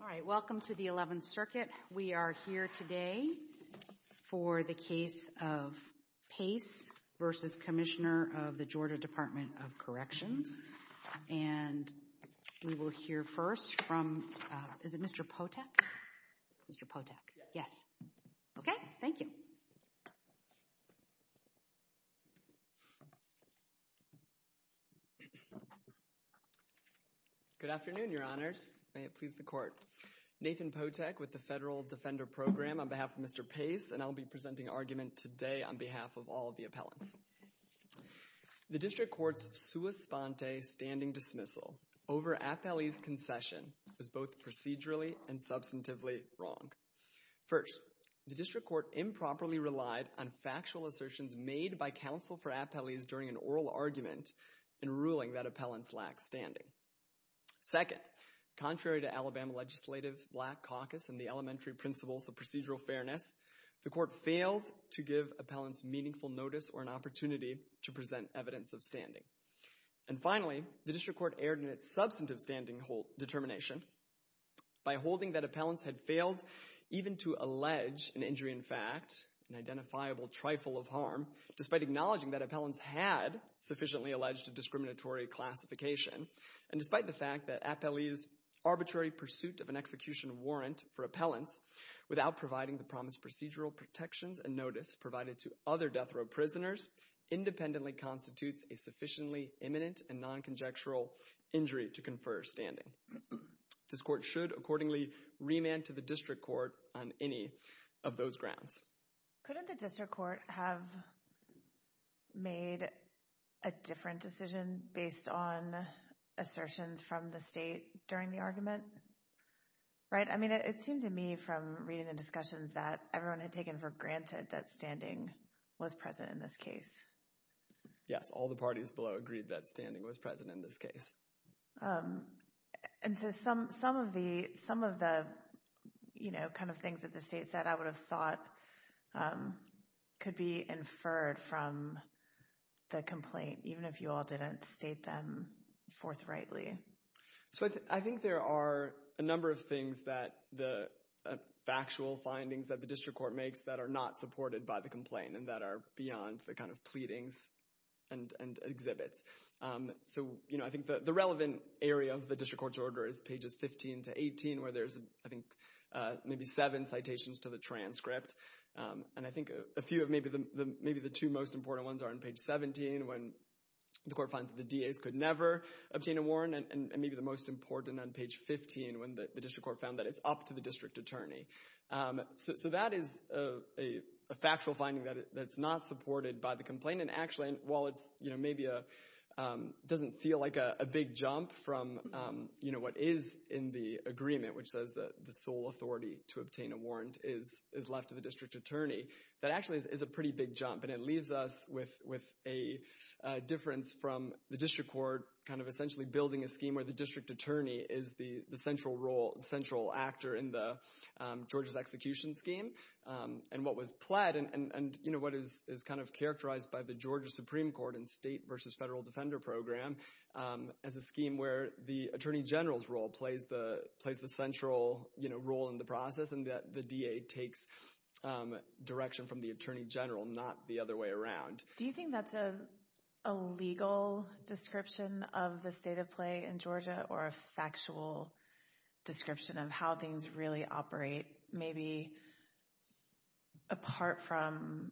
Alright, welcome to the 11th Circuit. We are here today for the case of Pace v. Commissioner of the Georgia Department of Corrections and we will hear first from, is it Mr. Potek, Mr. Potek, yes, okay, thank you. Good afternoon, your honors, may it please the court. Nathan Potek with the Federal Defender Program on behalf of Mr. Pace and I'll be presenting argument today on behalf of all of the appellants. The district court's sua sponte standing dismissal over appellee's concession is both procedurally and substantively wrong. First, the district court improperly relied on factual assertions made by counsel for appellees during an oral argument in ruling that appellants lacked standing. Second, contrary to Alabama legislative black caucus and the elementary principles of procedural fairness, the court failed to give appellants meaningful notice or an opportunity to present evidence of standing. And finally, the district court erred in its substantive standing determination by holding that appellants had failed even to allege an injury in fact, an identifiable trifle of harm, despite acknowledging that appellants had sufficiently alleged a discriminatory classification and despite the fact that appellee's arbitrary pursuit of an execution warrant for appellants without providing the promised procedural protections and notice provided to other death row prisoners independently constitutes a sufficiently imminent and non-conjectual injury to confer standing. This court should accordingly remand to the district court on any of those grounds. Couldn't the district court have made a different decision based on assertions from the state during the argument? Right? I mean, it seems to me from reading the discussions that everyone had taken for granted that standing was present in this case. Yes, all the parties below agreed that standing was present in this case. And so some of the, you know, kind of things that the state said I would have thought could be inferred from the complaint, even if you all didn't state them forthrightly. So I think there are a number of things that the factual findings that the district court makes that are not supported by the complaint and that are beyond the kind of pleadings and exhibits. So, you know, I think that the relevant area of the district court's order is pages 15 to 18 where there's, I think, maybe seven citations to the transcript. And I think a few of maybe the two most important ones are on page 17 when the court finds that the DAs could never obtain a warrant, and maybe the most important on page 15 when the district court found that it's up to the district attorney. So that is a factual finding that's not supported by the complaint. And actually, while it's, you know, maybe doesn't feel like a big jump from, you know, what is in the agreement, which says that the sole authority to obtain a warrant is left to the district attorney, that actually is a pretty big jump. And it leaves us with a difference from the district court kind of essentially building a scheme where the district attorney is the central role, central actor in the Georgia's execution scheme, and what was pled and, you know, what is kind of characterized by the Georgia Supreme Court and state versus federal defender program as a scheme where the attorney general's role plays the central, you know, role in the process and that the DA takes direction from the attorney general, not the other way around. Do you think that's a legal description of the state of play in Georgia or a factual description of how things really operate, maybe apart from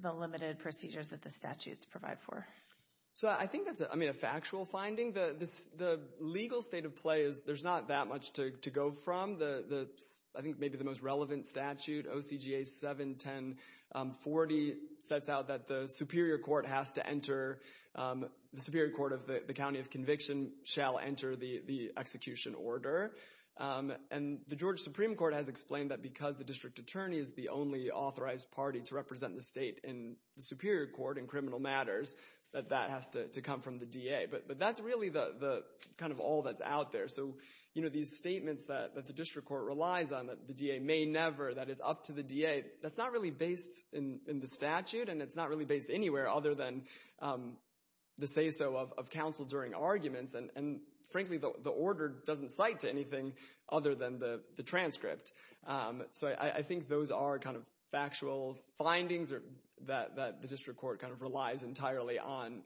the limited procedures that the statutes provide for? So I think that's, I mean, a factual finding. The legal state of play is, there's not that much to go from. I think maybe the most relevant statute, OCGA 71040, sets out that the superior court has to enter, the superior court of the county of conviction shall enter the execution order. And the Georgia Supreme Court has explained that because the district attorney is the only authorized party to represent the state in the superior court in criminal matters, that that has to come from the DA. But that's really the kind of all that's out there. So, you know, these statements that the district court relies on, that the DA may never, that it's up to the DA, that's not really based in the statute and it's not really based anywhere other than the say-so of counsel during arguments. And frankly, the order doesn't cite to anything other than the transcript. So I think those are kind of factual findings that the district court kind of relies entirely on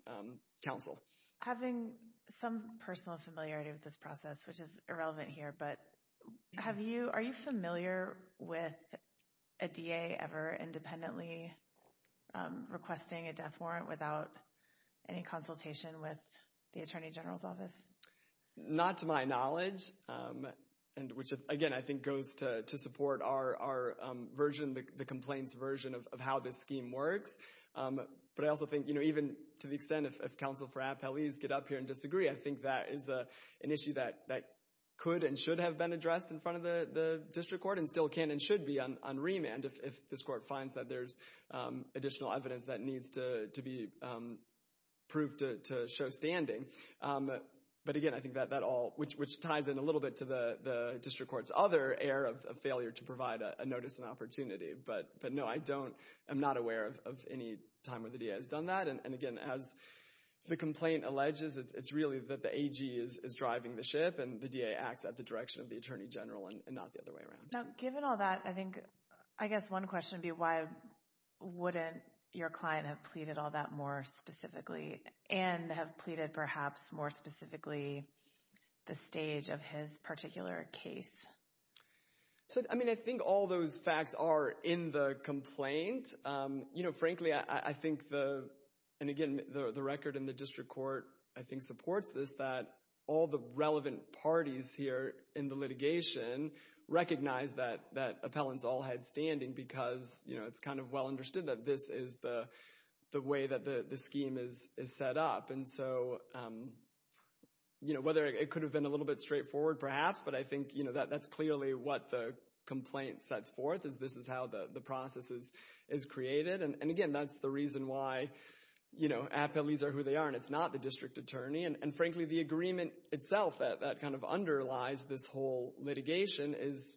counsel. Having some personal familiarity with this process, which is irrelevant here, but have you, are you familiar with a DA ever independently requesting a death warrant without any consultation with the Attorney General's office? Not to my knowledge, and which again, I think goes to support our version, the complaints version of how this scheme works, but I also think, you know, even to the extent of counsel for appellees get up here and disagree, I think that is an issue that could and should have been addressed in front of the district court and still can and should be on remand if this court finds that there's additional evidence that needs to be proved to show standing. But again, I think that all, which ties in a little bit to the district court's other air of failure to provide a notice and opportunity, but no, I don't, I'm not aware of any time where the DA has done that. And again, as the complaint alleges, it's really that the AG is driving the ship and the DA acts at the direction of the Attorney General and not the other way around. Now, given all that, I think, I guess one question would be why wouldn't your client have pleaded all that more specifically and have pleaded perhaps more specifically the stage of his particular case? So, I mean, I think all those facts are in the complaint. You know, frankly, I think the, and again, the record in the district court, I think supports this, that all the relevant parties here in the litigation recognize that Appellant's all had standing because, you know, it's kind of well understood that this is the way that the scheme is set up. And so, you know, whether it could have been a little bit straightforward perhaps, but I think, you know, that's clearly what the complaint sets forth is this is how the process is created. And again, that's the reason why, you know, appellees are who they are and it's not the district attorney. And frankly, the agreement itself that kind of underlies this whole litigation is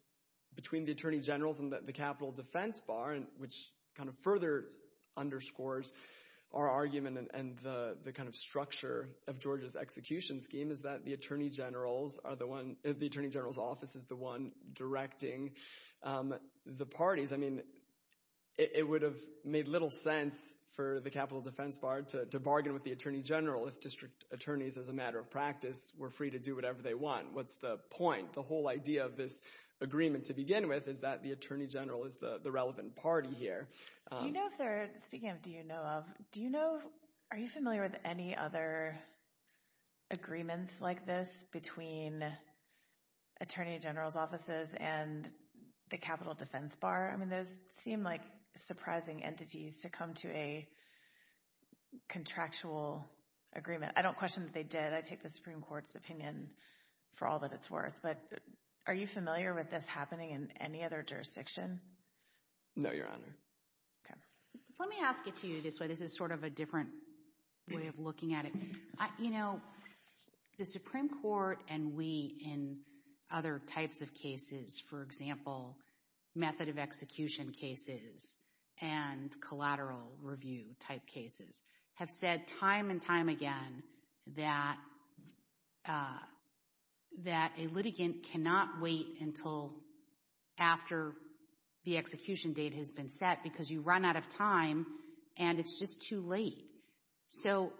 between the Attorney Generals and the Capitol Defense Bar, which kind of further underscores our argument and the kind of structure of Georgia's execution scheme is that the Attorney General's are the one, the Attorney General's office is the one directing the parties. I mean, it would have made little sense for the Capitol Defense Bar to bargain with the Attorney General if district attorneys, as a matter of practice, were free to do whatever they want. What's the point? The whole idea of this agreement to begin with is that the Attorney General is the relevant party here. Do you know if they're, speaking of do you know of, do you know, are you familiar with any other agreements like this between Attorney General's offices and the Capitol Defense Bar? I mean, those seem like surprising entities to come to a contractual agreement. I don't question that they did. I take the Supreme Court's opinion for all that it's worth, but are you familiar with this happening in any other jurisdiction? No, Your Honor. Okay. Let me ask it to you this way. This is sort of a different way of looking at it. You know, the Supreme Court and we in other types of cases, for example, method of execution cases and collateral review type cases, have said time and time again that a litigant cannot wait until after the execution date has been set because you run out of time and it's just too late. So,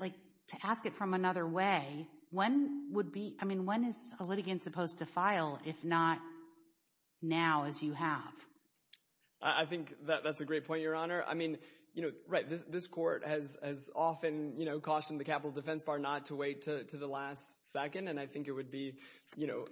like, to ask it from another way, when would be, I mean, when is a litigant supposed to file if not now as you have? I think that's a great point, Your Honor. I mean, you know, right, this Court has often, you know, cautioned the Capitol Defense Bar not to wait to the last second and I think it would be, you know,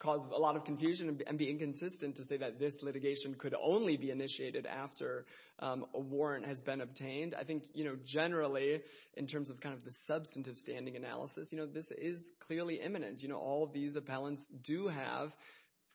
cause a lot of confusion and be inconsistent to say that this litigation could only be initiated after a warrant has been obtained. I think, you know, generally in terms of kind of the substantive standing analysis, you know, this is clearly imminent. You know, all of these appellants do have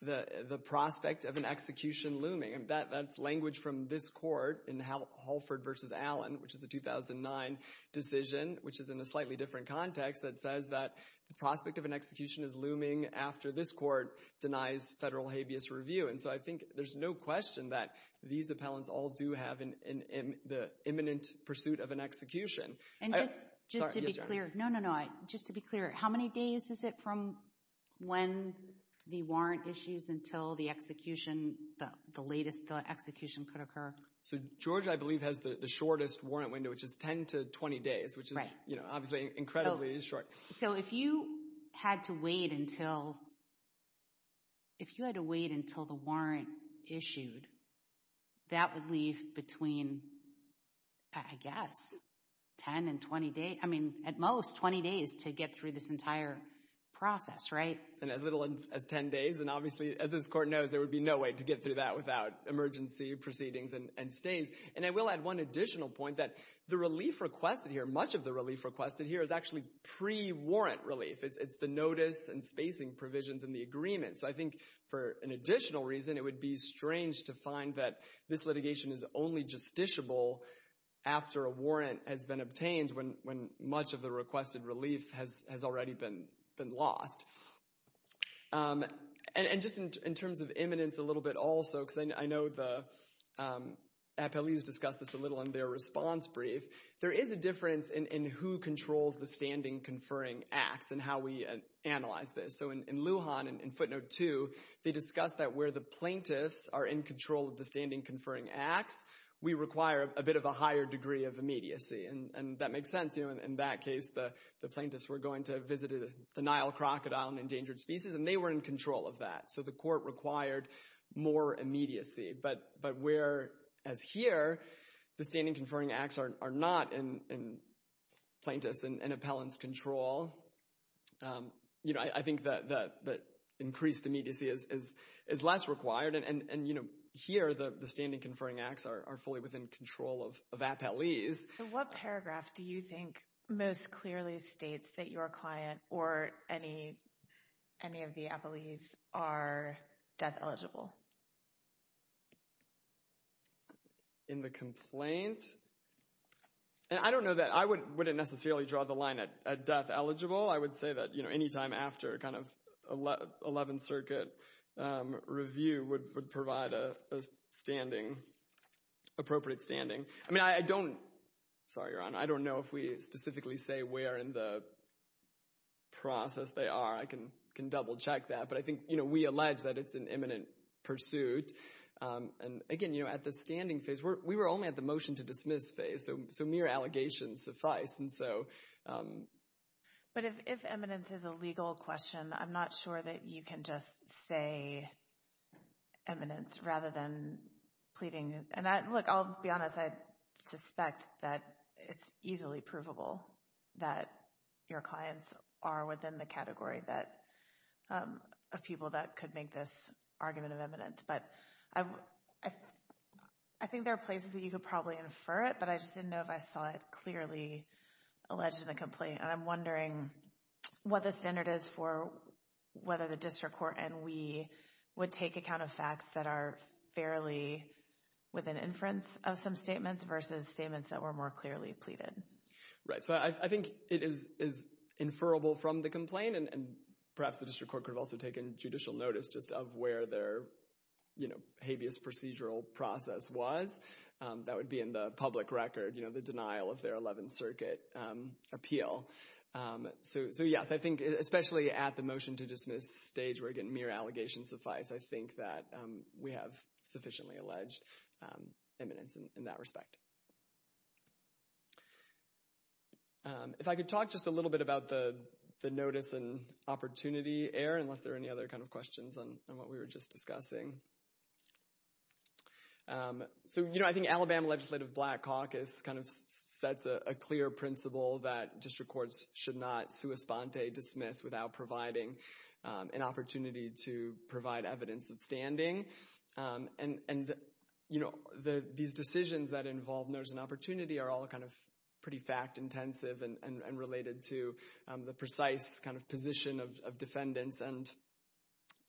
the prospect of an execution looming and that's language from this Court in Halford v. Allen, which is a 2009 decision, which is in a slightly different context that says that the prospect of an execution is looming after this Court denies federal habeas review. And so I think there's no question that these appellants all do have the imminent pursuit of an execution. And just to be clear, no, no, no, just to be clear, how many days is it from when the warrant issues until the execution, the latest execution could occur? So Georgia, I believe, has the shortest warrant window, which is 10 to 20 days, which is, you know, obviously incredibly short. So if you had to wait until, if you had to wait until the warrant issued, that would leave between, I guess, 10 and 20 days, I mean, at most 20 days to get through this entire process, right? And as little as 10 days, and obviously, as this Court knows, there would be no way to get through that without emergency proceedings and stays. And I will add one additional point that the relief requested here, much of the relief requested here is actually pre-warrant relief. It's the notice and spacing provisions in the agreement. So I think for an additional reason, it would be strange to find that this litigation is only justiciable after a warrant has been obtained when much of the requested relief has already been lost. And just in terms of imminence a little bit also, because I know the appellees discussed this a little in their response brief, there is a difference in who controls the standing conferring acts and how we analyze this. So in Lujan, in footnote two, they discussed that where the plaintiffs are in control of the standing conferring acts, we require a bit of a higher degree of immediacy. And that makes sense. In that case, the plaintiffs were going to visit the Nile crocodile, an endangered species, and they were in control of that. So the Court required more immediacy. But where, as here, the standing conferring acts are not in plaintiffs' and appellants' control, I think that increased immediacy is less required. And here, the standing conferring acts are fully within control of appellees. What paragraph do you think most clearly states that your client or any of the appellees are death-eligible? In the complaint? And I don't know that I wouldn't necessarily draw the line at death-eligible. I would say that, you know, any time after kind of 11th Circuit review would provide a standing, appropriate standing. I mean, I don't, sorry, Your Honor, I don't know if we specifically say where in the process they are. I can double-check that. But I think, you know, we allege that it's an eminent pursuit. And again, you know, at the standing phase, we were only at the motion-to-dismiss phase, so mere allegations suffice, and so. But if eminence is a legal question, I'm not sure that you can just say eminence rather than pleading. And I, look, I'll be honest, I suspect that it's easily provable that your clients are within the category that, of people that could make this argument of eminence. But I think there are places that you could probably infer it, but I just didn't know if I saw it clearly alleged in the complaint. And I'm wondering what the standard is for whether the district court and we would take account of facts that are fairly within inference of some statements versus statements that were more clearly pleaded. Right. So I think it is inferrable from the complaint, and perhaps the district court could have also taken judicial notice just of where their, you know, habeas procedural process was. That would be in the public record, you know, the denial of their 11th Circuit appeal. So yes, I think, especially at the motion-to-dismiss stage where, again, mere allegations suffice, I think that we have sufficiently alleged eminence in that respect. If I could talk just a little bit about the notice and opportunity error, unless there are any other kind of questions on what we were just discussing. So, you know, I think Alabama Legislative Black Caucus kind of sets a clear principle that district courts should not sua sponte, dismiss, without providing an opportunity to provide evidence of standing. And you know, these decisions that involve notice and opportunity are all kind of pretty fact-intensive and related to the precise kind of position of defendants and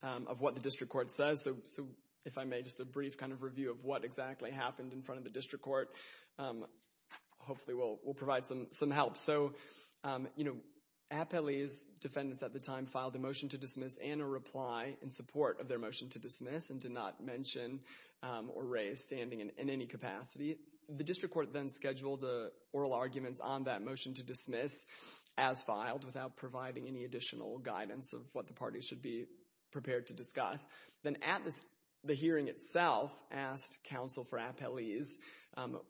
of what the district court says. So if I may, just a brief kind of review of what exactly happened in front of the district court. Hopefully, we'll provide some help. So, you know, appellees, defendants at the time, filed a motion-to-dismiss and a reply in support of their motion-to-dismiss and did not mention or raise standing in any capacity. The district court then scheduled oral arguments on that motion-to-dismiss as filed without providing any additional guidance of what the parties should be prepared to discuss. Then at the hearing itself, asked counsel for appellees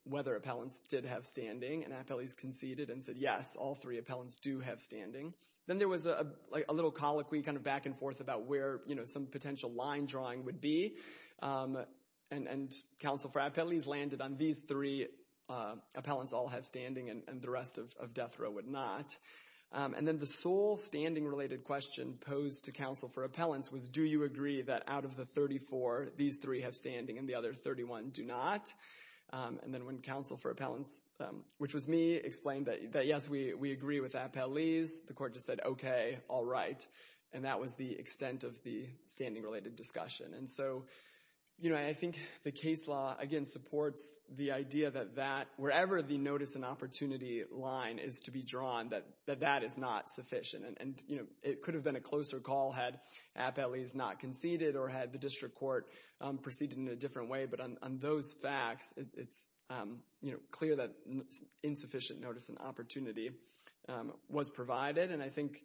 whether appellants did have standing, and appellees conceded and said, yes, all three appellants do have standing. Then there was a little colloquy kind of back and forth about where, you know, some potential line drawing would be, and counsel for appellees landed on these three appellants all have standing and the rest of death row would not. And then the sole standing-related question posed to counsel for appellants was, do you agree that out of the 34, these three have standing and the other 31 do not? And then when counsel for appellants, which was me, explained that, yes, we agree with appellees, the court just said, okay, all right. And that was the extent of the standing-related discussion. And so, you know, I think the case law, again, supports the idea that that, wherever the notice and opportunity line is to be drawn, that that is not sufficient. And it could have been a closer call had appellees not conceded or had the district court proceeded in a different way. But on those facts, it's clear that insufficient notice and opportunity was provided. And I think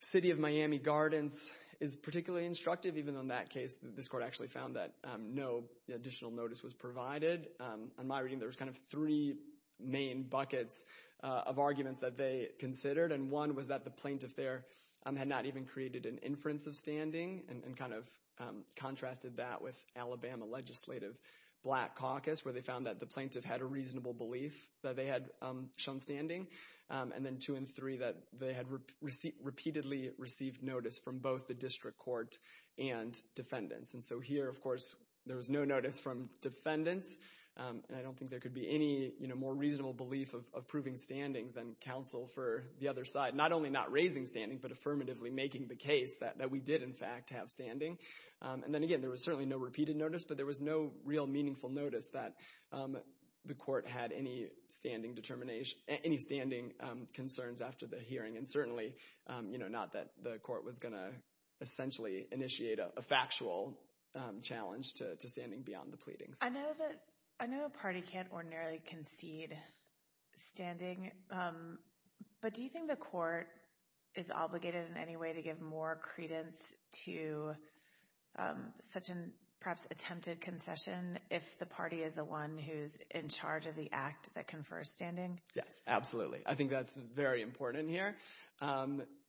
City of Miami Gardens is particularly instructive, even though in that case, this court actually found that no additional notice was provided. In my reading, there was kind of three main buckets of arguments that they considered. And one was that the plaintiff there had not even created an inference of standing and kind of contrasted that with Alabama Legislative Black Caucus, where they found that the plaintiff had a reasonable belief that they had shown standing. And then two and three, that they had repeatedly received notice from both the district court and defendants. And so here, of course, there was no notice from defendants. And I don't think there could be any, you know, more reasonable belief of proving standing than counsel for the other side. Not only not raising standing, but affirmatively making the case that we did, in fact, have standing. And then again, there was certainly no repeated notice, but there was no real meaningful notice that the court had any standing concerns after the hearing. And certainly, you know, not that the court was going to essentially initiate a factual challenge to standing beyond the pleadings. I know a party can't ordinarily concede standing, but do you think the court is obligated in any way to give more credence to such an, perhaps, attempted concession if the party is the one who's in charge of the act that confers standing? Yes, absolutely. I think that's very important here.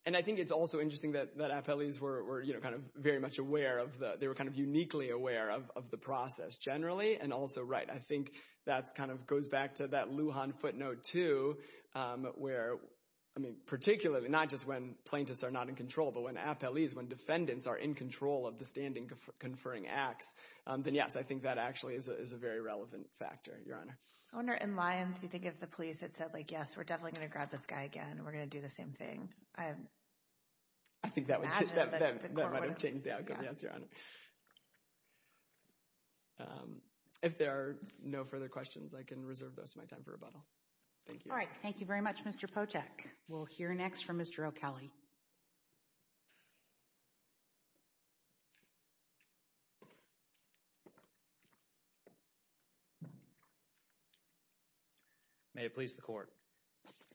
And I think it's also interesting that appellees were, you know, kind of very much aware of the, they were kind of uniquely aware of the process, generally. And also, right, I think that kind of goes back to that Lujan footnote, too, where, I mean, not just when plaintiffs are not in control, but when appellees, when defendants are in control of the standing conferring acts, then yes, I think that actually is a very relevant factor, Your Honor. I wonder, in Lyons, do you think if the police had said, like, yes, we're definitely going to grab this guy again, we're going to do the same thing? I think that would change the outcome, yes, Your Honor. If there are no further questions, I can reserve this, my time for rebuttal. Thank you. All right. Thank you very much, Mr. Potek. We'll hear next from Mr. O'Kelly. May it please the Court.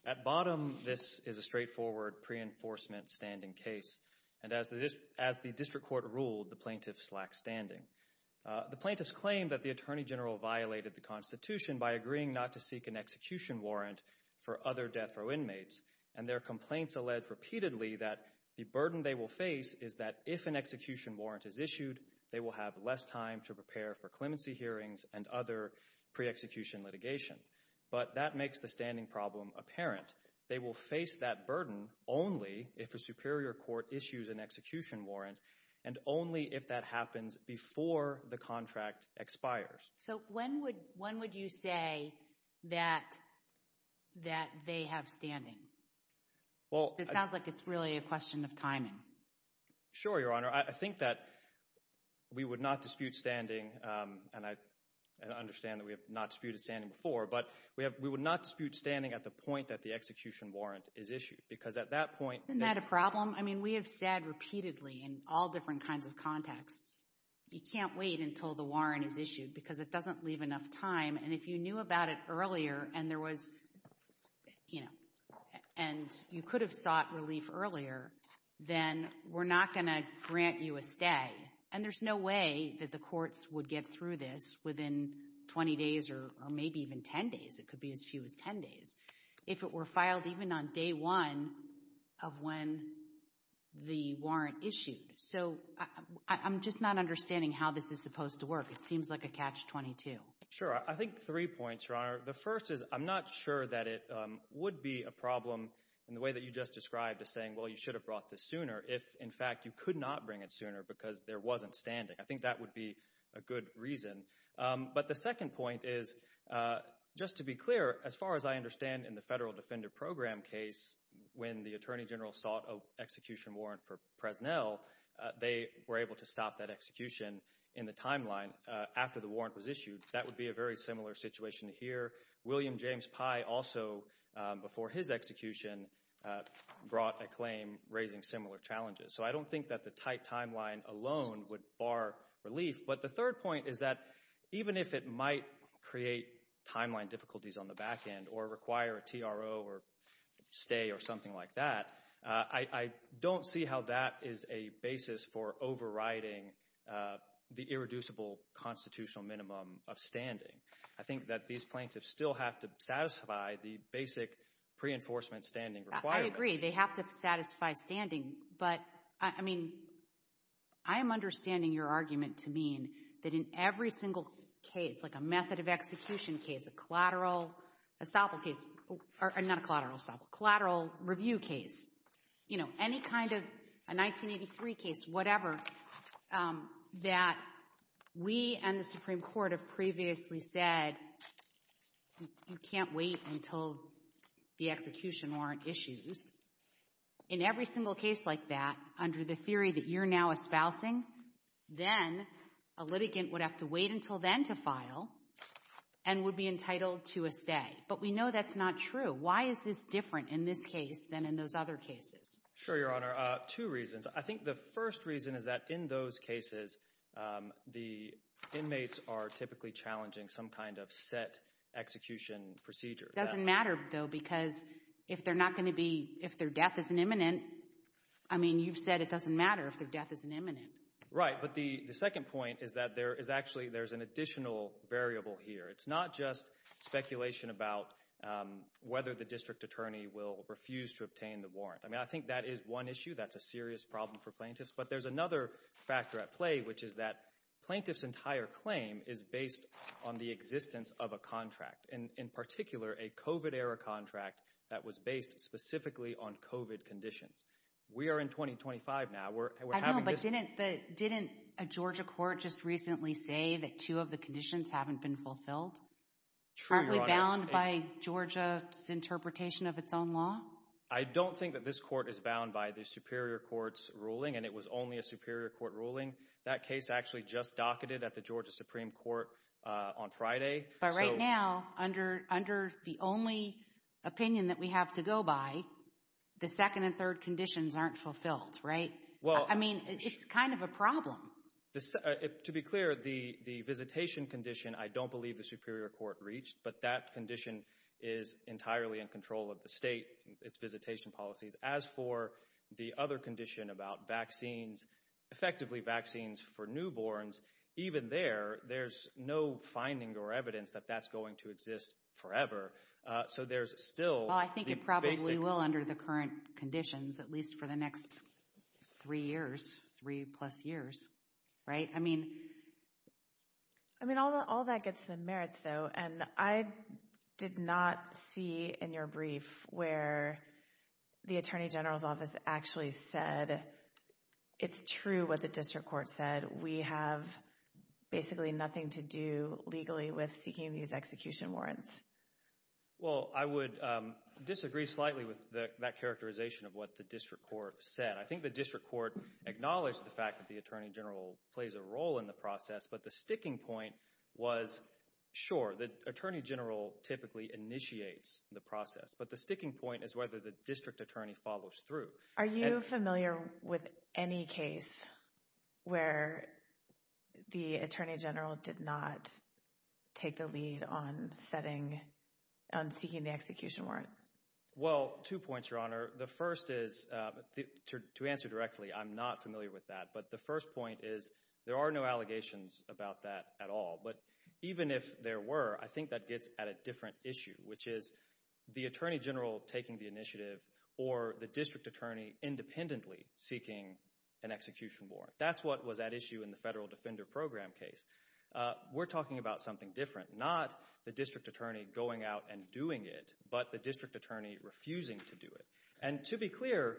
At bottom, this is a straightforward pre-enforcement standing case, and as the District Court ruled, the plaintiffs lack standing. The plaintiffs claim that the Attorney General violated the Constitution by agreeing not to seek an execution warrant for other death row inmates, and their complaints allege repeatedly that the burden they will face is that if an execution warrant is issued, they will have less time to prepare for clemency hearings and other pre-execution litigation. But that makes the standing problem apparent. They will face that burden only if a superior court issues an execution warrant, and only if that happens before the contract expires. So when would you say that they have standing? It sounds like it's really a question of timing. Sure, Your Honor. I think that we would not dispute standing, and I understand that we have not disputed standing before, but we would not dispute standing at the point that the execution warrant is issued, because at that point... Isn't that a problem? I mean, we have said repeatedly in all different kinds of contexts, you can't wait until the warrant is issued, because it doesn't leave enough time, and if you knew about it earlier, and there was, you know, and you could have sought relief earlier, then we're not going to grant you a stay. And there's no way that the courts would get through this within 20 days, or maybe even 10 days. It could be as few as 10 days, if it were filed even on day one of when the warrant issued. So I'm just not understanding how this is supposed to work. It seems like a catch-22. I think three points, Your Honor. The first is, I'm not sure that it would be a problem in the way that you just described as saying, well, you should have brought this sooner, if, in fact, you could not bring it sooner because there wasn't standing. I think that would be a good reason. But the second point is, just to be clear, as far as I understand in the Federal Defender Program case, when the Attorney General sought an execution warrant for Fresnel, they were able to stop that execution in the timeline after the warrant was issued. That would be a very similar situation here. William James Pye also, before his execution, brought a claim raising similar challenges. So I don't think that the tight timeline alone would bar relief. But the third point is that even if it might create timeline difficulties on the back end or require a TRO or stay or something like that, I don't see how that is a basis for overriding the irreducible constitutional minimum of standing. I think that these plaintiffs still have to satisfy the basic pre-enforcement standing requirements. I agree. They have to satisfy standing. But, I mean, I am understanding your argument to mean that in every single case, like a execution case, a collateral, a SOPL case, or not a collateral SOPL, collateral review case, you know, any kind of a 1983 case, whatever, that we and the Supreme Court have previously said you can't wait until the execution warrant issues. In every single case like that, under the theory that you're now espousing, then a litigant would have to wait until then to file and would be entitled to a stay. But we know that's not true. Why is this different in this case than in those other cases? Sure, Your Honor. Two reasons. I think the first reason is that in those cases, the inmates are typically challenging some kind of set execution procedure. It doesn't matter, though, because if they're not going to be, if their death isn't imminent, I mean, you've said it doesn't matter if their death isn't imminent. Right. But the second point is that there is actually, there's an additional variable here. It's not just speculation about whether the district attorney will refuse to obtain the warrant. I mean, I think that is one issue. That's a serious problem for plaintiffs. But there's another factor at play, which is that plaintiff's entire claim is based on the existence of a contract, and in particular, a COVID-era contract that was based specifically on COVID conditions. We are in 2025 now. I don't know, but didn't a Georgia court just recently say that two of the conditions haven't been fulfilled? True, Your Honor. Aren't we bound by Georgia's interpretation of its own law? I don't think that this court is bound by the Superior Court's ruling, and it was only a Superior Court ruling. That case actually just docketed at the Georgia Supreme Court on Friday. But right now, under the only opinion that we have to go by, the second and third conditions aren't fulfilled, right? I mean, it's kind of a problem. To be clear, the visitation condition, I don't believe the Superior Court reached. But that condition is entirely in control of the state, its visitation policies. As for the other condition about vaccines, effectively vaccines for newborns, even there, there's no finding or evidence that that's going to exist forever. So there's still... Well, I think it probably will under the current conditions, at least for the next three years, three plus years, right? I mean... I mean, all that gets to the merits, though, and I did not see in your brief where the Attorney General's office actually said, it's true what the district court said. We have basically nothing to do legally with seeking these execution warrants. Well, I would disagree slightly with that characterization of what the district court said. I think the district court acknowledged the fact that the Attorney General plays a role in the process, but the sticking point was, sure, the Attorney General typically initiates the process. But the sticking point is whether the district attorney follows through. Are you familiar with any case where the Attorney General did not take the lead on setting, on seeking the execution warrant? Well, two points, Your Honor. The first is, to answer directly, I'm not familiar with that. But the first point is, there are no allegations about that at all. But even if there were, I think that gets at a different issue, which is the Attorney General taking the initiative or the district attorney independently seeking an execution warrant. That's what was at issue in the Federal Defender Program case. We're talking about something different, not the district attorney going out and doing it, but the district attorney refusing to do it. And to be clear,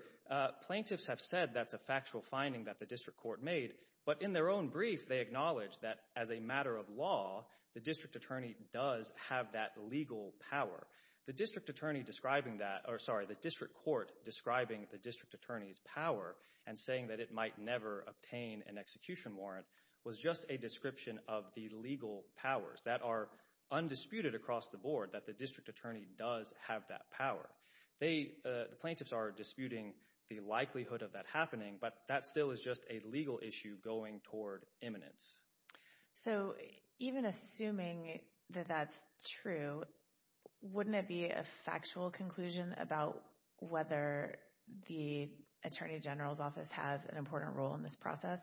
plaintiffs have said that's a factual finding that the district court made, but in their own brief, they acknowledged that as a matter of law, the district attorney does have that legal power. The district attorney describing that, or sorry, the district court describing the district attorney's power and saying that it might never obtain an execution warrant was just a description of the legal powers that are undisputed across the board, that the district attorney does have that power. They, the plaintiffs are disputing the likelihood of that happening, but that still is just a legal issue going toward imminence. So even assuming that that's true, wouldn't it be a factual conclusion about whether the Attorney General's office has an important role in this process?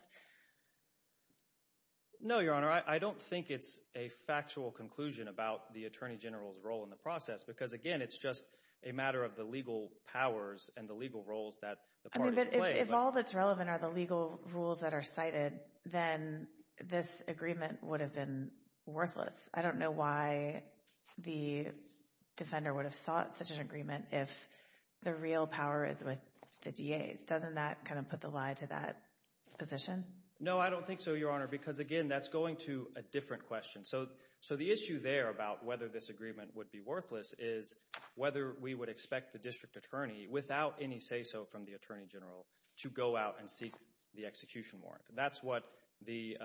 No, Your Honor, I don't think it's a factual conclusion about the Attorney General's role in the process, because again, it's just a matter of the legal powers and the legal roles that the parties play. But if all that's relevant are the legal rules that are cited, then this agreement would have been worthless. I don't know why the defender would have sought such an agreement if the real power is with the DA. Doesn't that kind of put the lie to that position? No, I don't think so, Your Honor, because again, that's going to a different question. So the issue there about whether this agreement would be worthless is whether we would expect the District Attorney, without any say-so from the Attorney General, to go out and seek the execution warrant. That's what the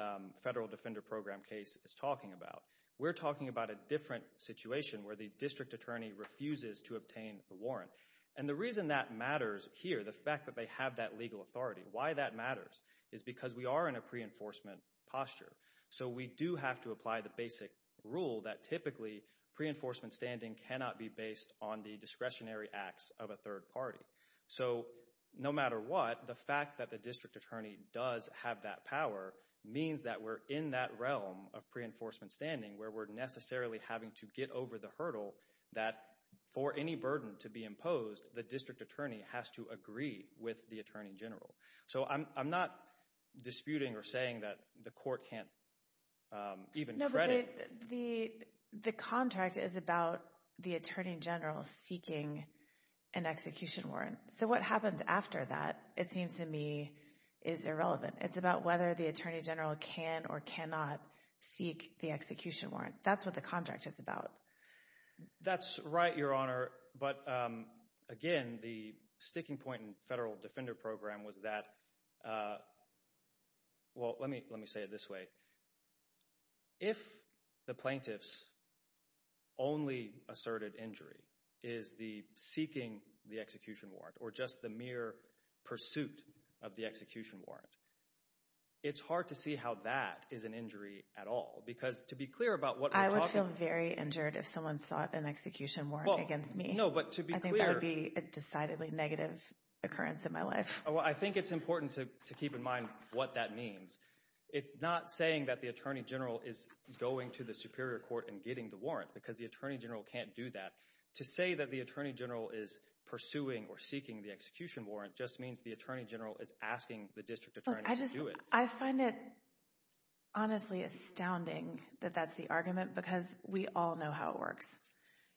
Federal Defender Program case is talking about. We're talking about a different situation where the District Attorney refuses to obtain the warrant. And the reason that matters here, the fact that they have that legal authority, why that matters is because we are in a pre-enforcement posture. So we do have to apply the basic rule that typically pre-enforcement standing cannot be based on the discretionary acts of a third party. So no matter what, the fact that the District Attorney does have that power means that we're in that realm of pre-enforcement standing where we're necessarily having to get over the hurdle that for any burden to be imposed, the District Attorney has to agree with the Attorney General. So I'm not disputing or saying that the Court can't even credit— The contract is about the Attorney General seeking an execution warrant. So what happens after that, it seems to me, is irrelevant. It's about whether the Attorney General can or cannot seek the execution warrant. That's what the contract is about. That's right, Your Honor. But again, the sticking point in Federal Defender Program was that—well, let me say it this way. If the plaintiff's only asserted injury is the seeking the execution warrant or just the mere pursuit of the execution warrant, it's hard to see how that is an injury at all because to be clear about what we're talking— I would feel very injured if someone sought an execution warrant against me. No, but to be clear— I think that would be a decidedly negative occurrence in my life. I think it's important to keep in mind what that means. It's not saying that the Attorney General is going to the Superior Court and getting the warrant because the Attorney General can't do that. To say that the Attorney General is pursuing or seeking the execution warrant just means the Attorney General is asking the District Attorney to do it. I find it honestly astounding that that's the argument because we all know how it works.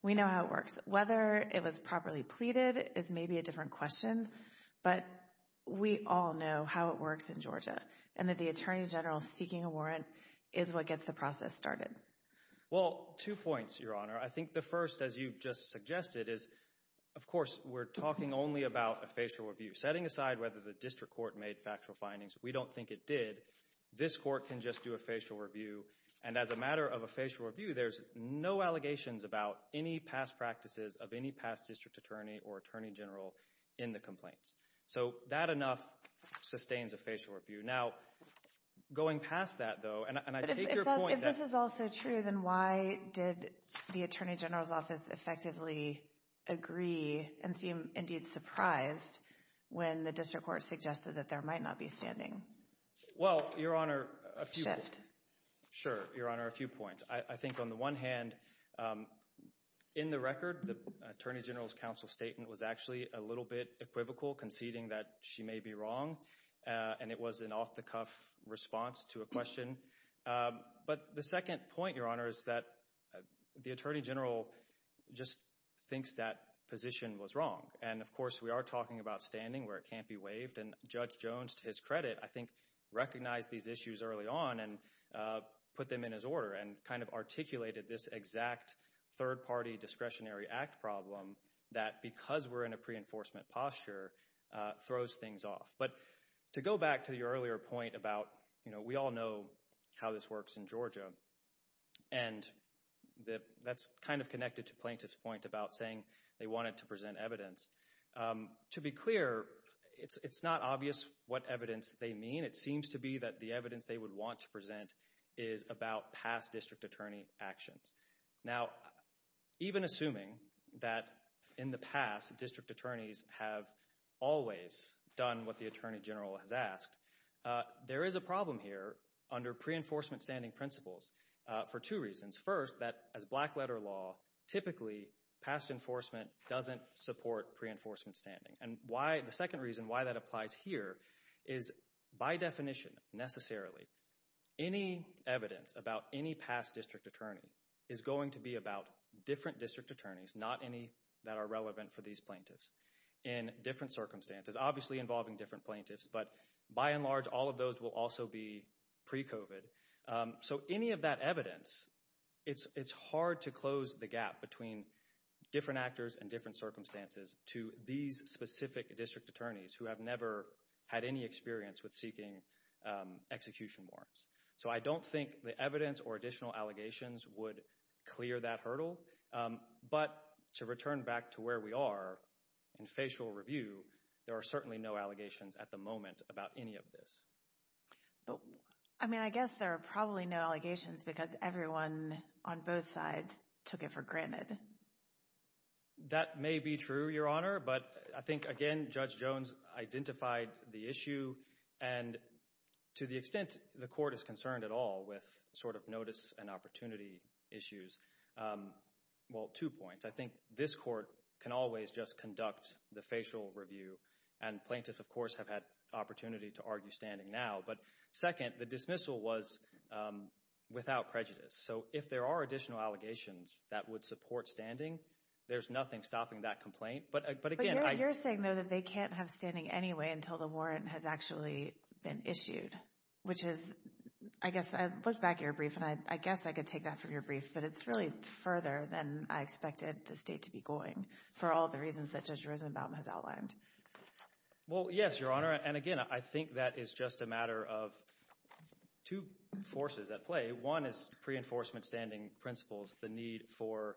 We know how it works. Whether it was properly pleaded is maybe a different question, but we all know how it works in Georgia and that the Attorney General seeking a warrant is what gets the process started. Well, two points, Your Honor. I think the first, as you just suggested, is of course we're talking only about a facial review. Setting aside whether the District Court made factual findings, we don't think it did. This Court can just do a facial review and as a matter of a facial review, there's no allegations about any past practices of any past District Attorney or Attorney General in the complaints. So, that enough sustains a facial review. Now, going past that though, and I take your point that... If this is also true, then why did the Attorney General's office effectively agree and seem indeed surprised when the District Court suggested that there might not be standing? Well, Your Honor, a few... Shift. Sure, Your Honor, a few points. I think on the one hand, in the record, the Attorney General's counsel statement was actually a little bit equivocal, conceding that she may be wrong. And it was an off-the-cuff response to a question. But the second point, Your Honor, is that the Attorney General just thinks that position was wrong. And of course, we are talking about standing where it can't be waived. And Judge Jones, to his credit, I think recognized these issues early on and put them in his order and kind of articulated this exact third-party discretionary act problem that because we're in a pre-enforcement posture, throws things off. But to go back to your earlier point about, you know, we all know how this works in Georgia. And that's kind of connected to Plaintiff's point about saying they wanted to present evidence. To be clear, it's not obvious what evidence they mean. It seems to be that the evidence they would want to present is about past District Attorney actions. Now, even assuming that in the past, District Attorneys have always done what the Attorney General has asked, there is a problem here under pre-enforcement standing principles for two reasons. First, that as black-letter law, typically, past enforcement doesn't support pre-enforcement standing. And the second reason why that applies here is by definition, necessarily, any evidence about any past District Attorney is going to be about different District Attorneys, not any that are relevant for these Plaintiffs in different circumstances, obviously involving different Plaintiffs. But by and large, all of those will also be pre-COVID. So any of that evidence, it's hard to close the gap between different actors and different circumstances to these specific District Attorneys who have never had any experience with seeking execution warrants. So I don't think the evidence or additional allegations would clear that hurdle. But to return back to where we are in facial review, there are certainly no allegations at the moment about any of this. But, I mean, I guess there are probably no allegations because everyone on both sides took it for granted. That may be true, Your Honor, but I think, again, Judge Jones identified the issue and to the extent the Court is concerned at all with sort of notice and opportunity issues, well, two points. I think this Court can always just conduct the facial review and Plaintiffs, of course, have had opportunity to argue standing now. But second, the dismissal was without prejudice. So if there are additional allegations that would support standing, there's nothing stopping that complaint. But again, I— But you're saying, though, that they can't have standing anyway until the warrant has actually been issued, which is, I guess, I look back at your brief and I guess I could take that from your brief, but it's really further than I expected the state to be going for all the reasons that Judge Rosenbaum has outlined. Well, yes, Your Honor, and again, I think that is just a matter of two forces at play. One is pre-enforcement standing principles, the need for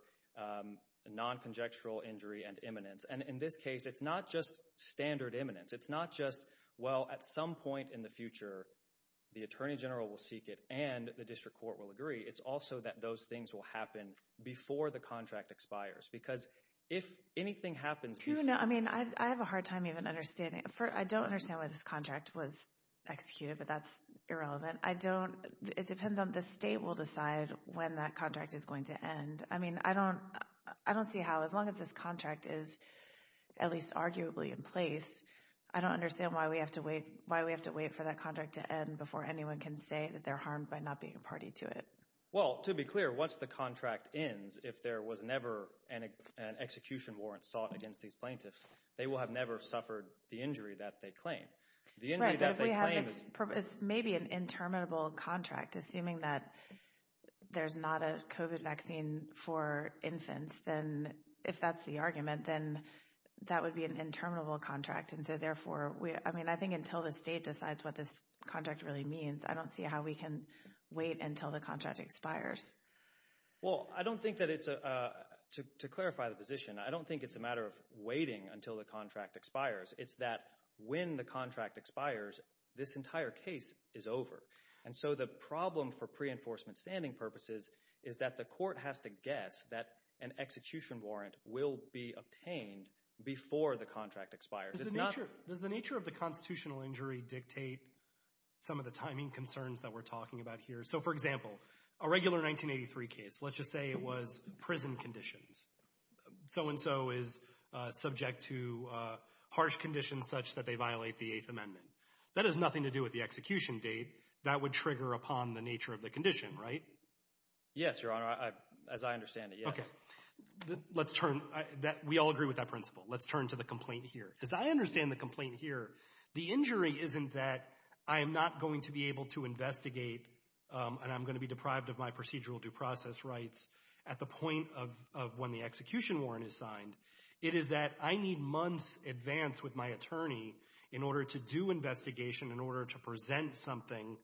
non-conjectural injury and imminence. And in this case, it's not just standard imminence. It's not just, well, at some point in the future, the Attorney General will seek it and the District Court will agree. It's also that those things will happen before the contract expires, because if anything happens before— You know, I mean, I have a hard time even understanding—I don't understand why this contract was executed, but that's irrelevant. I don't—it depends on—the state will decide when that contract is going to end. I mean, I don't—I don't see how—as long as this contract is at least arguably in place, I don't understand why we have to wait—why we have to wait for that contract to end before anyone can say that they're harmed by not being a party to it. Well, to be clear, once the contract ends, if there was never an execution warrant sought against these plaintiffs, they will have never suffered the injury that they claim. The injury that they claim— Right, but if we have—it's maybe an interminable contract, assuming that there's not a COVID vaccine for infants, then if that's the argument, then that would be an interminable contract. And so, therefore, we—I mean, I think until the state decides what this contract really means, I don't see how we can wait until the contract expires. Well, I don't think that it's a—to clarify the position, I don't think it's a matter of waiting until the contract expires. It's that when the contract expires, this entire case is over. And so the problem for pre-enforcement standing purposes is that the court has to guess that an execution warrant will be obtained before the contract expires. It's not— Does the nature of the constitutional injury dictate some of the timing concerns that we're talking about here? So, for example, a regular 1983 case, let's just say it was prison conditions. So-and-so is subject to harsh conditions such that they violate the Eighth Amendment. That has nothing to do with the execution date. That would trigger upon the nature of the condition, right? Yes, Your Honor. As I understand it, yes. Okay. Let's turn—we all agree with that principle. Let's turn to the complaint here. As I understand the complaint here, the injury isn't that I'm not going to be able to investigate and I'm going to be deprived of my procedural due process rights at the point of when the execution warrant is signed. It is that I need months advance with my attorney in order to do investigation, in order to present something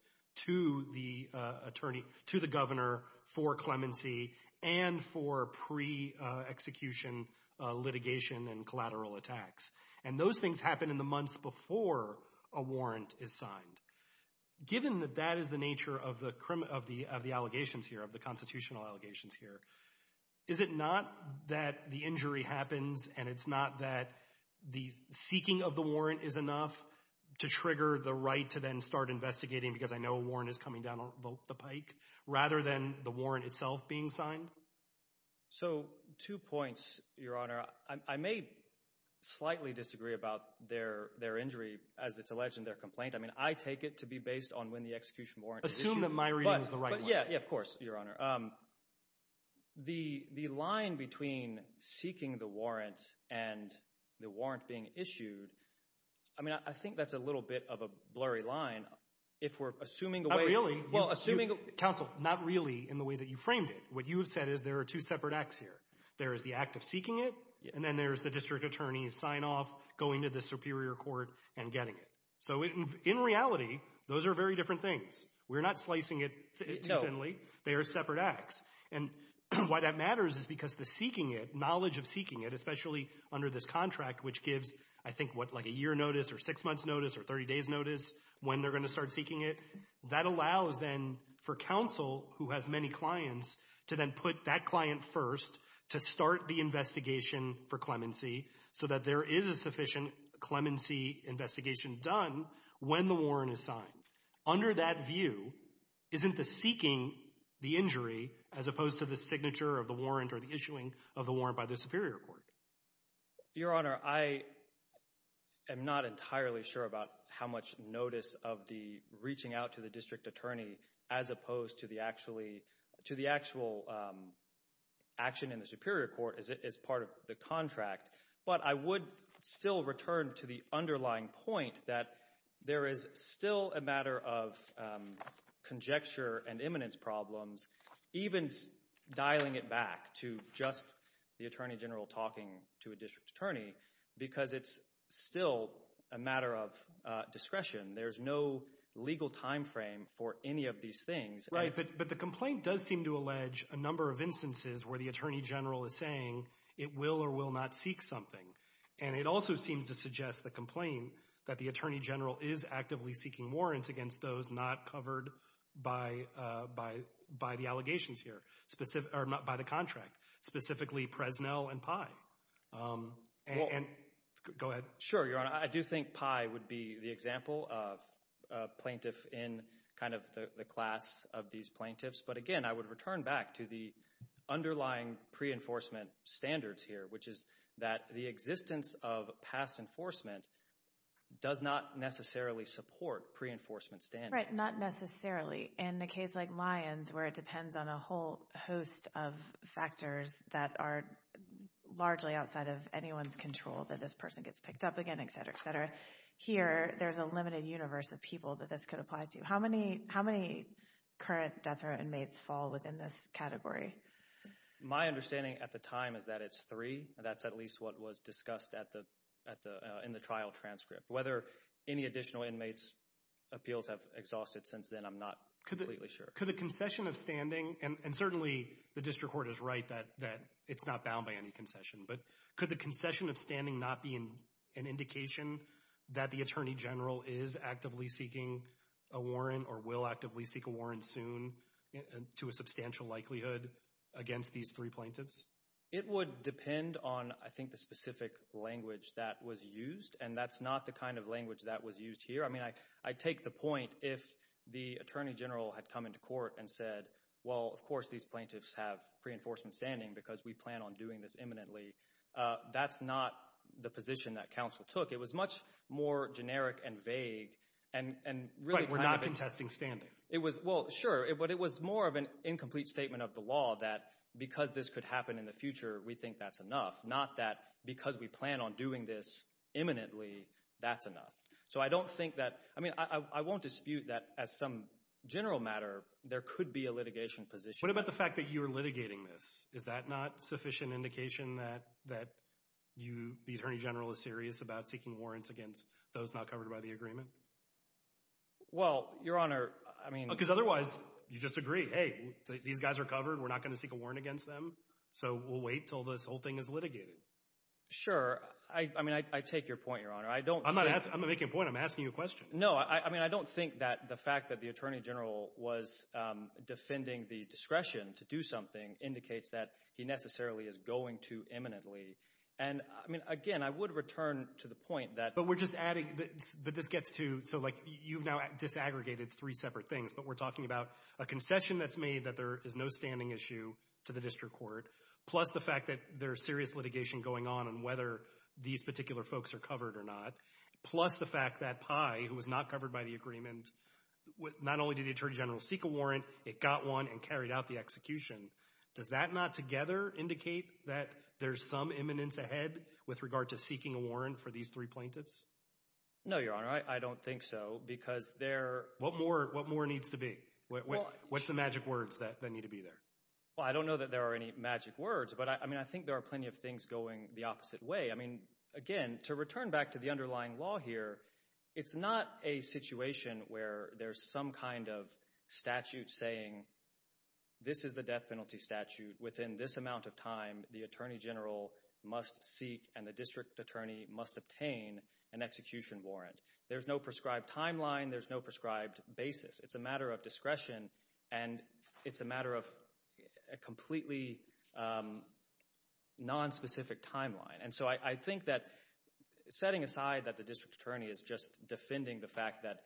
to the attorney—to the governor for clemency and for pre-execution litigation and collateral attacks. And those things happen in the months before a warrant is signed. Given that that is the nature of the allegations here, of the constitutional allegations here, is it not that the injury happens and it's not that the seeking of the warrant is enough to trigger the right to then start investigating because I know a warrant is coming down the pike rather than the warrant itself being signed? So two points, Your Honor. I may slightly disagree about their injury as it's alleged in their complaint. I mean, I take it to be based on when the execution warrant is issued. Assume that my reading is the right one. Yeah, yeah, of course, Your Honor. The line between seeking the warrant and the warrant being issued, I mean, I think that's a little bit of a blurry line if we're assuming the way— Well, assuming— Counsel, not really in the way that you framed it. What you have said is there are two separate acts here. There is the act of seeking it and then there's the district attorney's sign-off going to the superior court and getting it. So in reality, those are very different things. We're not slicing it too thinly. They are separate acts. And why that matters is because the seeking it, knowledge of seeking it, especially under this contract which gives, I think, what, like a year notice or six months notice or 30 days notice when they're going to start seeking it, that allows then for counsel who has many clients to then put that client first to start the investigation for clemency so that there is a sufficient clemency investigation done when the warrant is signed. Under that view, isn't the seeking the injury as opposed to the signature of the warrant or the issuing of the warrant by the superior court? Your Honor, I am not entirely sure about how much notice of the reaching out to the district attorney as opposed to the actual action in the superior court as part of the contract. But I would still return to the underlying point that there is still a matter of conjecture and imminence problems, even dialing it back to just the attorney general talking to a district attorney, because it's still a matter of discretion. There's no legal timeframe for any of these things. Right, but the complaint does seem to allege a number of instances where the attorney general is saying it will or will not seek something. And it also seems to suggest the complaint that the attorney general is actively seeking warrants against those not covered by the allegations here, or by the contract, specifically Presnell and Pye. Go ahead. Sure, Your Honor, I do think Pye would be the example of plaintiff in kind of the class of these plaintiffs. But again, I would return back to the underlying pre-enforcement standards here, which is that the existence of past enforcement does not necessarily support pre-enforcement standards. Right, not necessarily. In a case like Lyons, where it depends on a whole host of factors that are largely outside of anyone's control, that this person gets picked up again, et cetera, et cetera, here there's a limited universe of people that this could apply to. How many current death row inmates fall within this category? My understanding at the time is that it's three. That's at least what was discussed in the trial transcript. Whether any additional inmates' appeals have exhausted since then, I'm not completely sure. Could the concession of standing, and certainly the district court is right that it's not bound by any concession, but could the concession of standing not be an indication that the attorney general is actively seeking a warrant or will actively seek a warrant soon to a substantial likelihood against these three plaintiffs? It would depend on, I think, the specific language that was used, and that's not the kind of language that was used here. I mean, I take the point if the attorney general had come into court and said, well, of course these plaintiffs have pre-enforcement standing because we plan on doing this imminently. That's not the position that counsel took. It was much more generic and vague and really kind of... Right, we're not contesting standing. It was, well, sure, but it was more of an incomplete statement of the law that because this could happen in the future, we think that's enough, not that because we plan on doing this imminently, that's enough. So I don't think that, I mean, I won't dispute that as some general matter, there could be a litigation position. What about the fact that you're litigating this? Is that not sufficient indication that you, the attorney general, is serious about seeking warrants against those not covered by the agreement? Well, Your Honor, I mean... Because otherwise, you just agree, hey, these guys are covered. We're not going to seek a warrant against them, so we'll wait until this whole thing is litigated. Sure. I mean, I take your point, Your Honor. I don't think... I'm not making a point. I'm asking you a question. No, I mean, I don't think that the fact that the attorney general was defending the discretion to do something indicates that he necessarily is going to imminently. And I mean, again, I would return to the point that... But we're just adding that this gets to, so like, you've now disaggregated three separate things, but we're talking about a concession that's made that there is no standing issue to the district court, plus the fact that there's serious litigation going on on whether these particular folks are covered or not, plus the fact that Pai, who was not covered by the agreement, not only did the attorney general seek a warrant, it got one and carried out the execution. Does that not together indicate that there's some imminence ahead with regard to seeking a warrant for these three plaintiffs? No, Your Honor. I don't think so, because there... What more needs to be? What's the magic words that need to be there? Well, I don't know that there are any magic words, but I mean, I think there are plenty of things going the opposite way. I mean, again, to return back to the underlying law here, it's not a situation where there's some kind of statute saying, this is the death penalty statute. Within this amount of time, the attorney general must seek and the district attorney must obtain an execution warrant. There's no prescribed timeline. There's no prescribed basis. It's a matter of discretion, and it's a matter of a completely nonspecific timeline. And so, I think that setting aside that the district attorney is just defending the fact that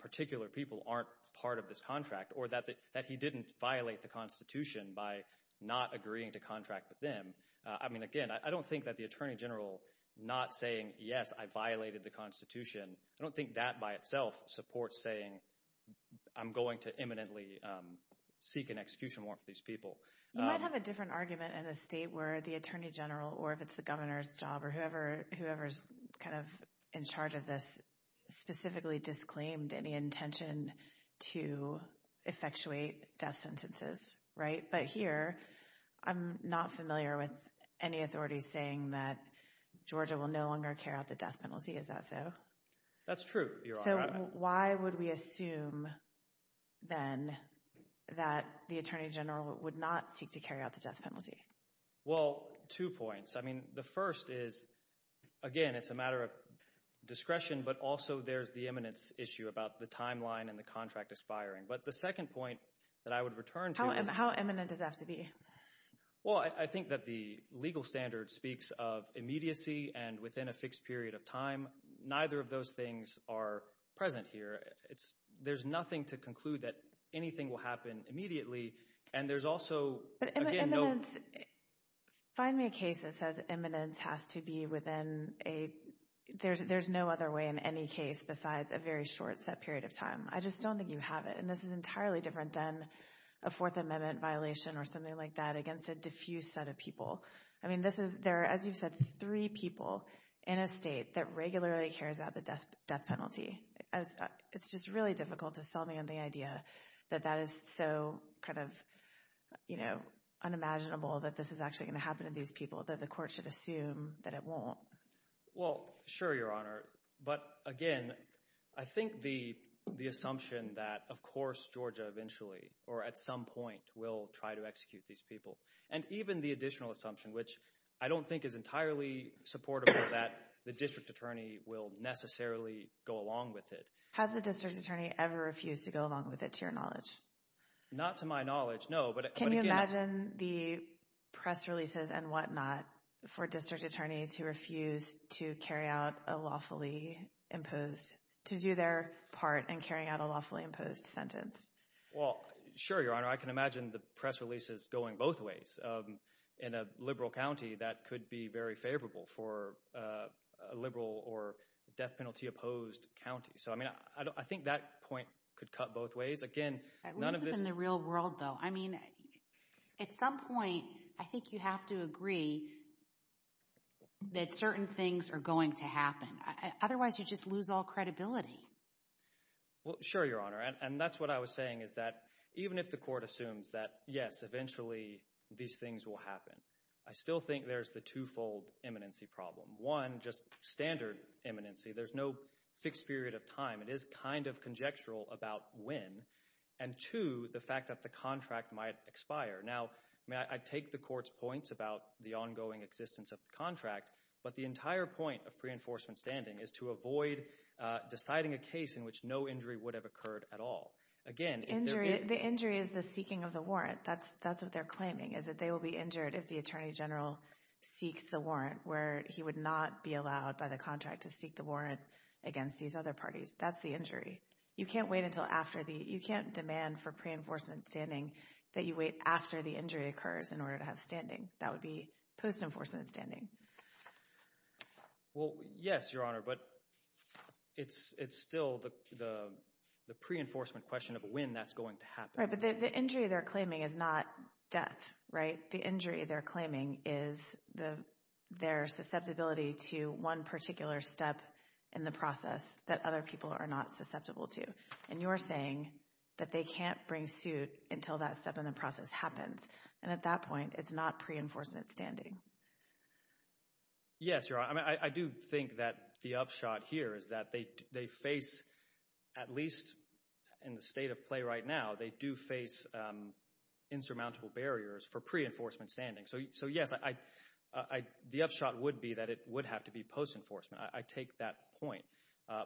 particular people aren't part of this contract, or that he didn't violate the Constitution by not agreeing to contract with them, I mean, again, I don't think that the attorney general not saying, yes, I violated the Constitution, I don't think that by itself supports saying, I'm going to imminently seek an execution warrant for these people. You might have a different argument in a state where the attorney general, or if it's the governor's job, or whoever's kind of in charge of this, specifically disclaimed any intention to effectuate death sentences, right? But here, I'm not familiar with any authorities saying that Georgia will no longer carry out the death penalty. Is that so? That's true, Your Honor. So, why would we assume, then, that the attorney general would not seek to carry out the death penalty? Well, two points. I mean, the first is, again, it's a matter of discretion, but also there's the eminence issue about the timeline and the contract aspiring. But the second point that I would return to is... How eminent does that have to be? Well, I think that the legal standard speaks of immediacy and within a fixed period of Neither of those things are present here. There's nothing to conclude that anything will happen immediately, and there's also... But eminence, find me a case that says eminence has to be within a... There's no other way in any case besides a very short set period of time. I just don't think you have it, and this is entirely different than a Fourth Amendment violation or something like that against a diffuse set of people. I mean, this is... There are, as you've said, three people in a state that regularly carries out the death penalty. It's just really difficult to sell me on the idea that that is so kind of unimaginable that this is actually going to happen to these people, that the court should assume that it won't. Well, sure, Your Honor. But again, I think the assumption that, of course, Georgia eventually, or at some point, will try to execute these people, and even the additional assumption, which I don't think is entirely supportable, that the district attorney will necessarily go along with it. Has the district attorney ever refused to go along with it, to your knowledge? Not to my knowledge, no. But again... Can you imagine the press releases and whatnot for district attorneys who refuse to carry out a lawfully imposed... To do their part in carrying out a lawfully imposed sentence? Well, sure, Your Honor. I can imagine the press releases going both ways. In a liberal county, that could be very favorable for a liberal or death penalty-opposed county. So I mean, I think that point could cut both ways. Again, none of this... I believe in the real world, though. I mean, at some point, I think you have to agree that certain things are going to happen. Otherwise, you just lose all credibility. Well, sure, Your Honor. And that's what I was saying, is that even if the court assumes that, yes, eventually these things will happen, I still think there's the two-fold imminency problem. One, just standard imminency. There's no fixed period of time. It is kind of conjectural about when. And two, the fact that the contract might expire. Now, I mean, I take the court's points about the ongoing existence of the contract, but the entire point of pre-enforcement standing is to avoid deciding a case in which no injury would have occurred at all. Again, if there is... The injury is the seeking of the warrant. That's what they're claiming, is that they will be injured if the Attorney General seeks the warrant, where he would not be allowed by the contract to seek the warrant against these other parties. That's the injury. You can't wait until after the... You can't demand for pre-enforcement standing that you wait after the injury occurs in order to have standing. That would be post-enforcement standing. Well, yes, Your Honor, but it's still the pre-enforcement question of when that's going to happen. Right, but the injury they're claiming is not death, right? The injury they're claiming is their susceptibility to one particular step in the process that other people are not susceptible to. And you're saying that they can't bring suit until that step in the process happens. And at that point, it's not pre-enforcement standing. Yes, Your Honor. I mean, I do think that the upshot here is that they face, at least in the state of play right now, they do face insurmountable barriers for pre-enforcement standing. So yes, the upshot would be that it would have to be post-enforcement. I take that point.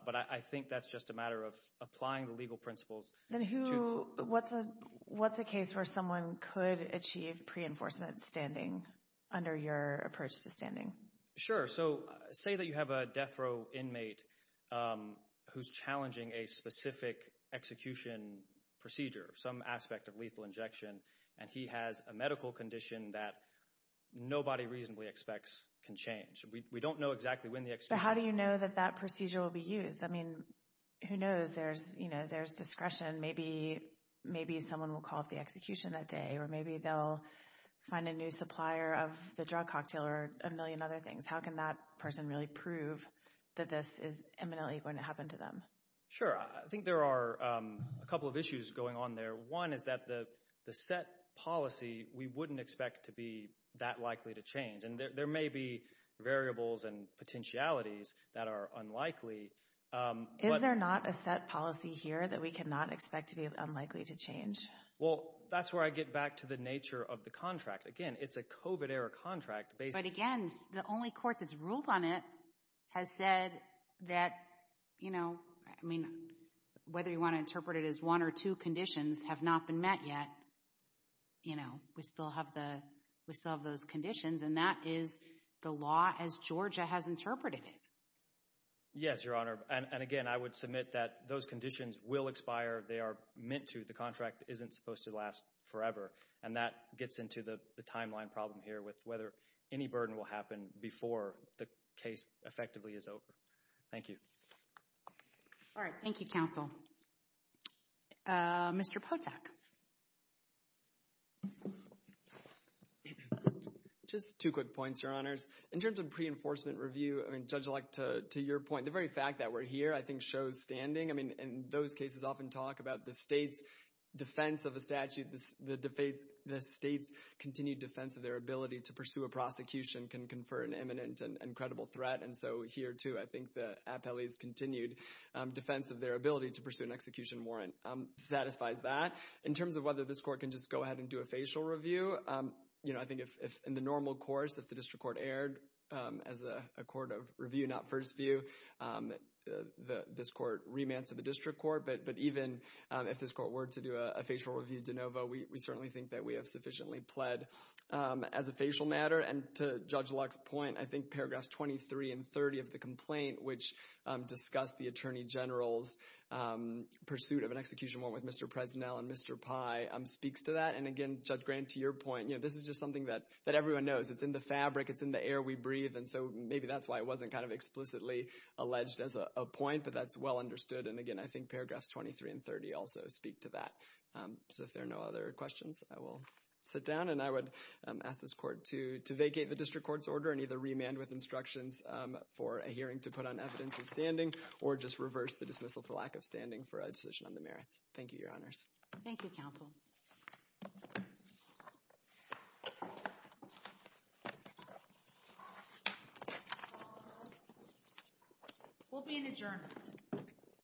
But I think that's just a matter of applying the legal principles. Then what's a case where someone could achieve pre-enforcement standing under your approach to standing? Sure. So, say that you have a death row inmate who's challenging a specific execution procedure, some aspect of lethal injection, and he has a medical condition that nobody reasonably expects can change. We don't know exactly when the execution... But how do you know that that procedure will be used? Because, I mean, who knows? There's discretion. Maybe someone will call up the execution that day, or maybe they'll find a new supplier of the drug cocktail or a million other things. How can that person really prove that this is imminently going to happen to them? Sure. I think there are a couple of issues going on there. One is that the set policy, we wouldn't expect to be that likely to change. And there may be variables and potentialities that are unlikely. Is there not a set policy here that we cannot expect to be unlikely to change? Well, that's where I get back to the nature of the contract. Again, it's a COVID-era contract based... But again, the only court that's ruled on it has said that, you know, I mean, whether you want to interpret it as one or two conditions have not been met yet. You know, we still have those conditions. And that is the law as Georgia has interpreted it. Yes, Your Honor. And again, I would submit that those conditions will expire. They are meant to. The contract isn't supposed to last forever. And that gets into the timeline problem here with whether any burden will happen before the case effectively is over. Thank you. All right. Thank you, counsel. Mr. Potak. Just two quick points, Your Honors. In terms of pre-enforcement review, I mean, Judge Leck, to your point, the very fact that we're here I think shows standing. I mean, in those cases often talk about the state's defense of a statute, the state's continued defense of their ability to pursue a prosecution can confer an imminent and credible threat. And so here, too, I think the appellee's continued defense of their ability to pursue an execution warrant satisfies that. In terms of whether this court can just go ahead and do a facial review, you know, I think if in the normal course, if the district court erred as a court of review, not first view, this court remands to the district court. But even if this court were to do a facial review de novo, we certainly think that we have sufficiently pled as a facial matter. And to Judge Leck's point, I think paragraphs 23 and 30 of the complaint, which discuss the attorney general's pursuit of an execution warrant with Mr. Presnell and Mr. Pye, speaks to that. And again, Judge Grant, to your point, this is just something that everyone knows. It's in the fabric. It's in the air we breathe. And so maybe that's why it wasn't kind of explicitly alleged as a point, but that's well understood. And again, I think paragraphs 23 and 30 also speak to that. So if there are no other questions, I will sit down. And I would ask this court to vacate the district court's order and either remand with instructions for a hearing to put on evidence of standing or just reverse the dismissal for lack of standing for a decision on the merits. Thank you, Your Honors. Thank you, Counsel. We'll be in adjournment.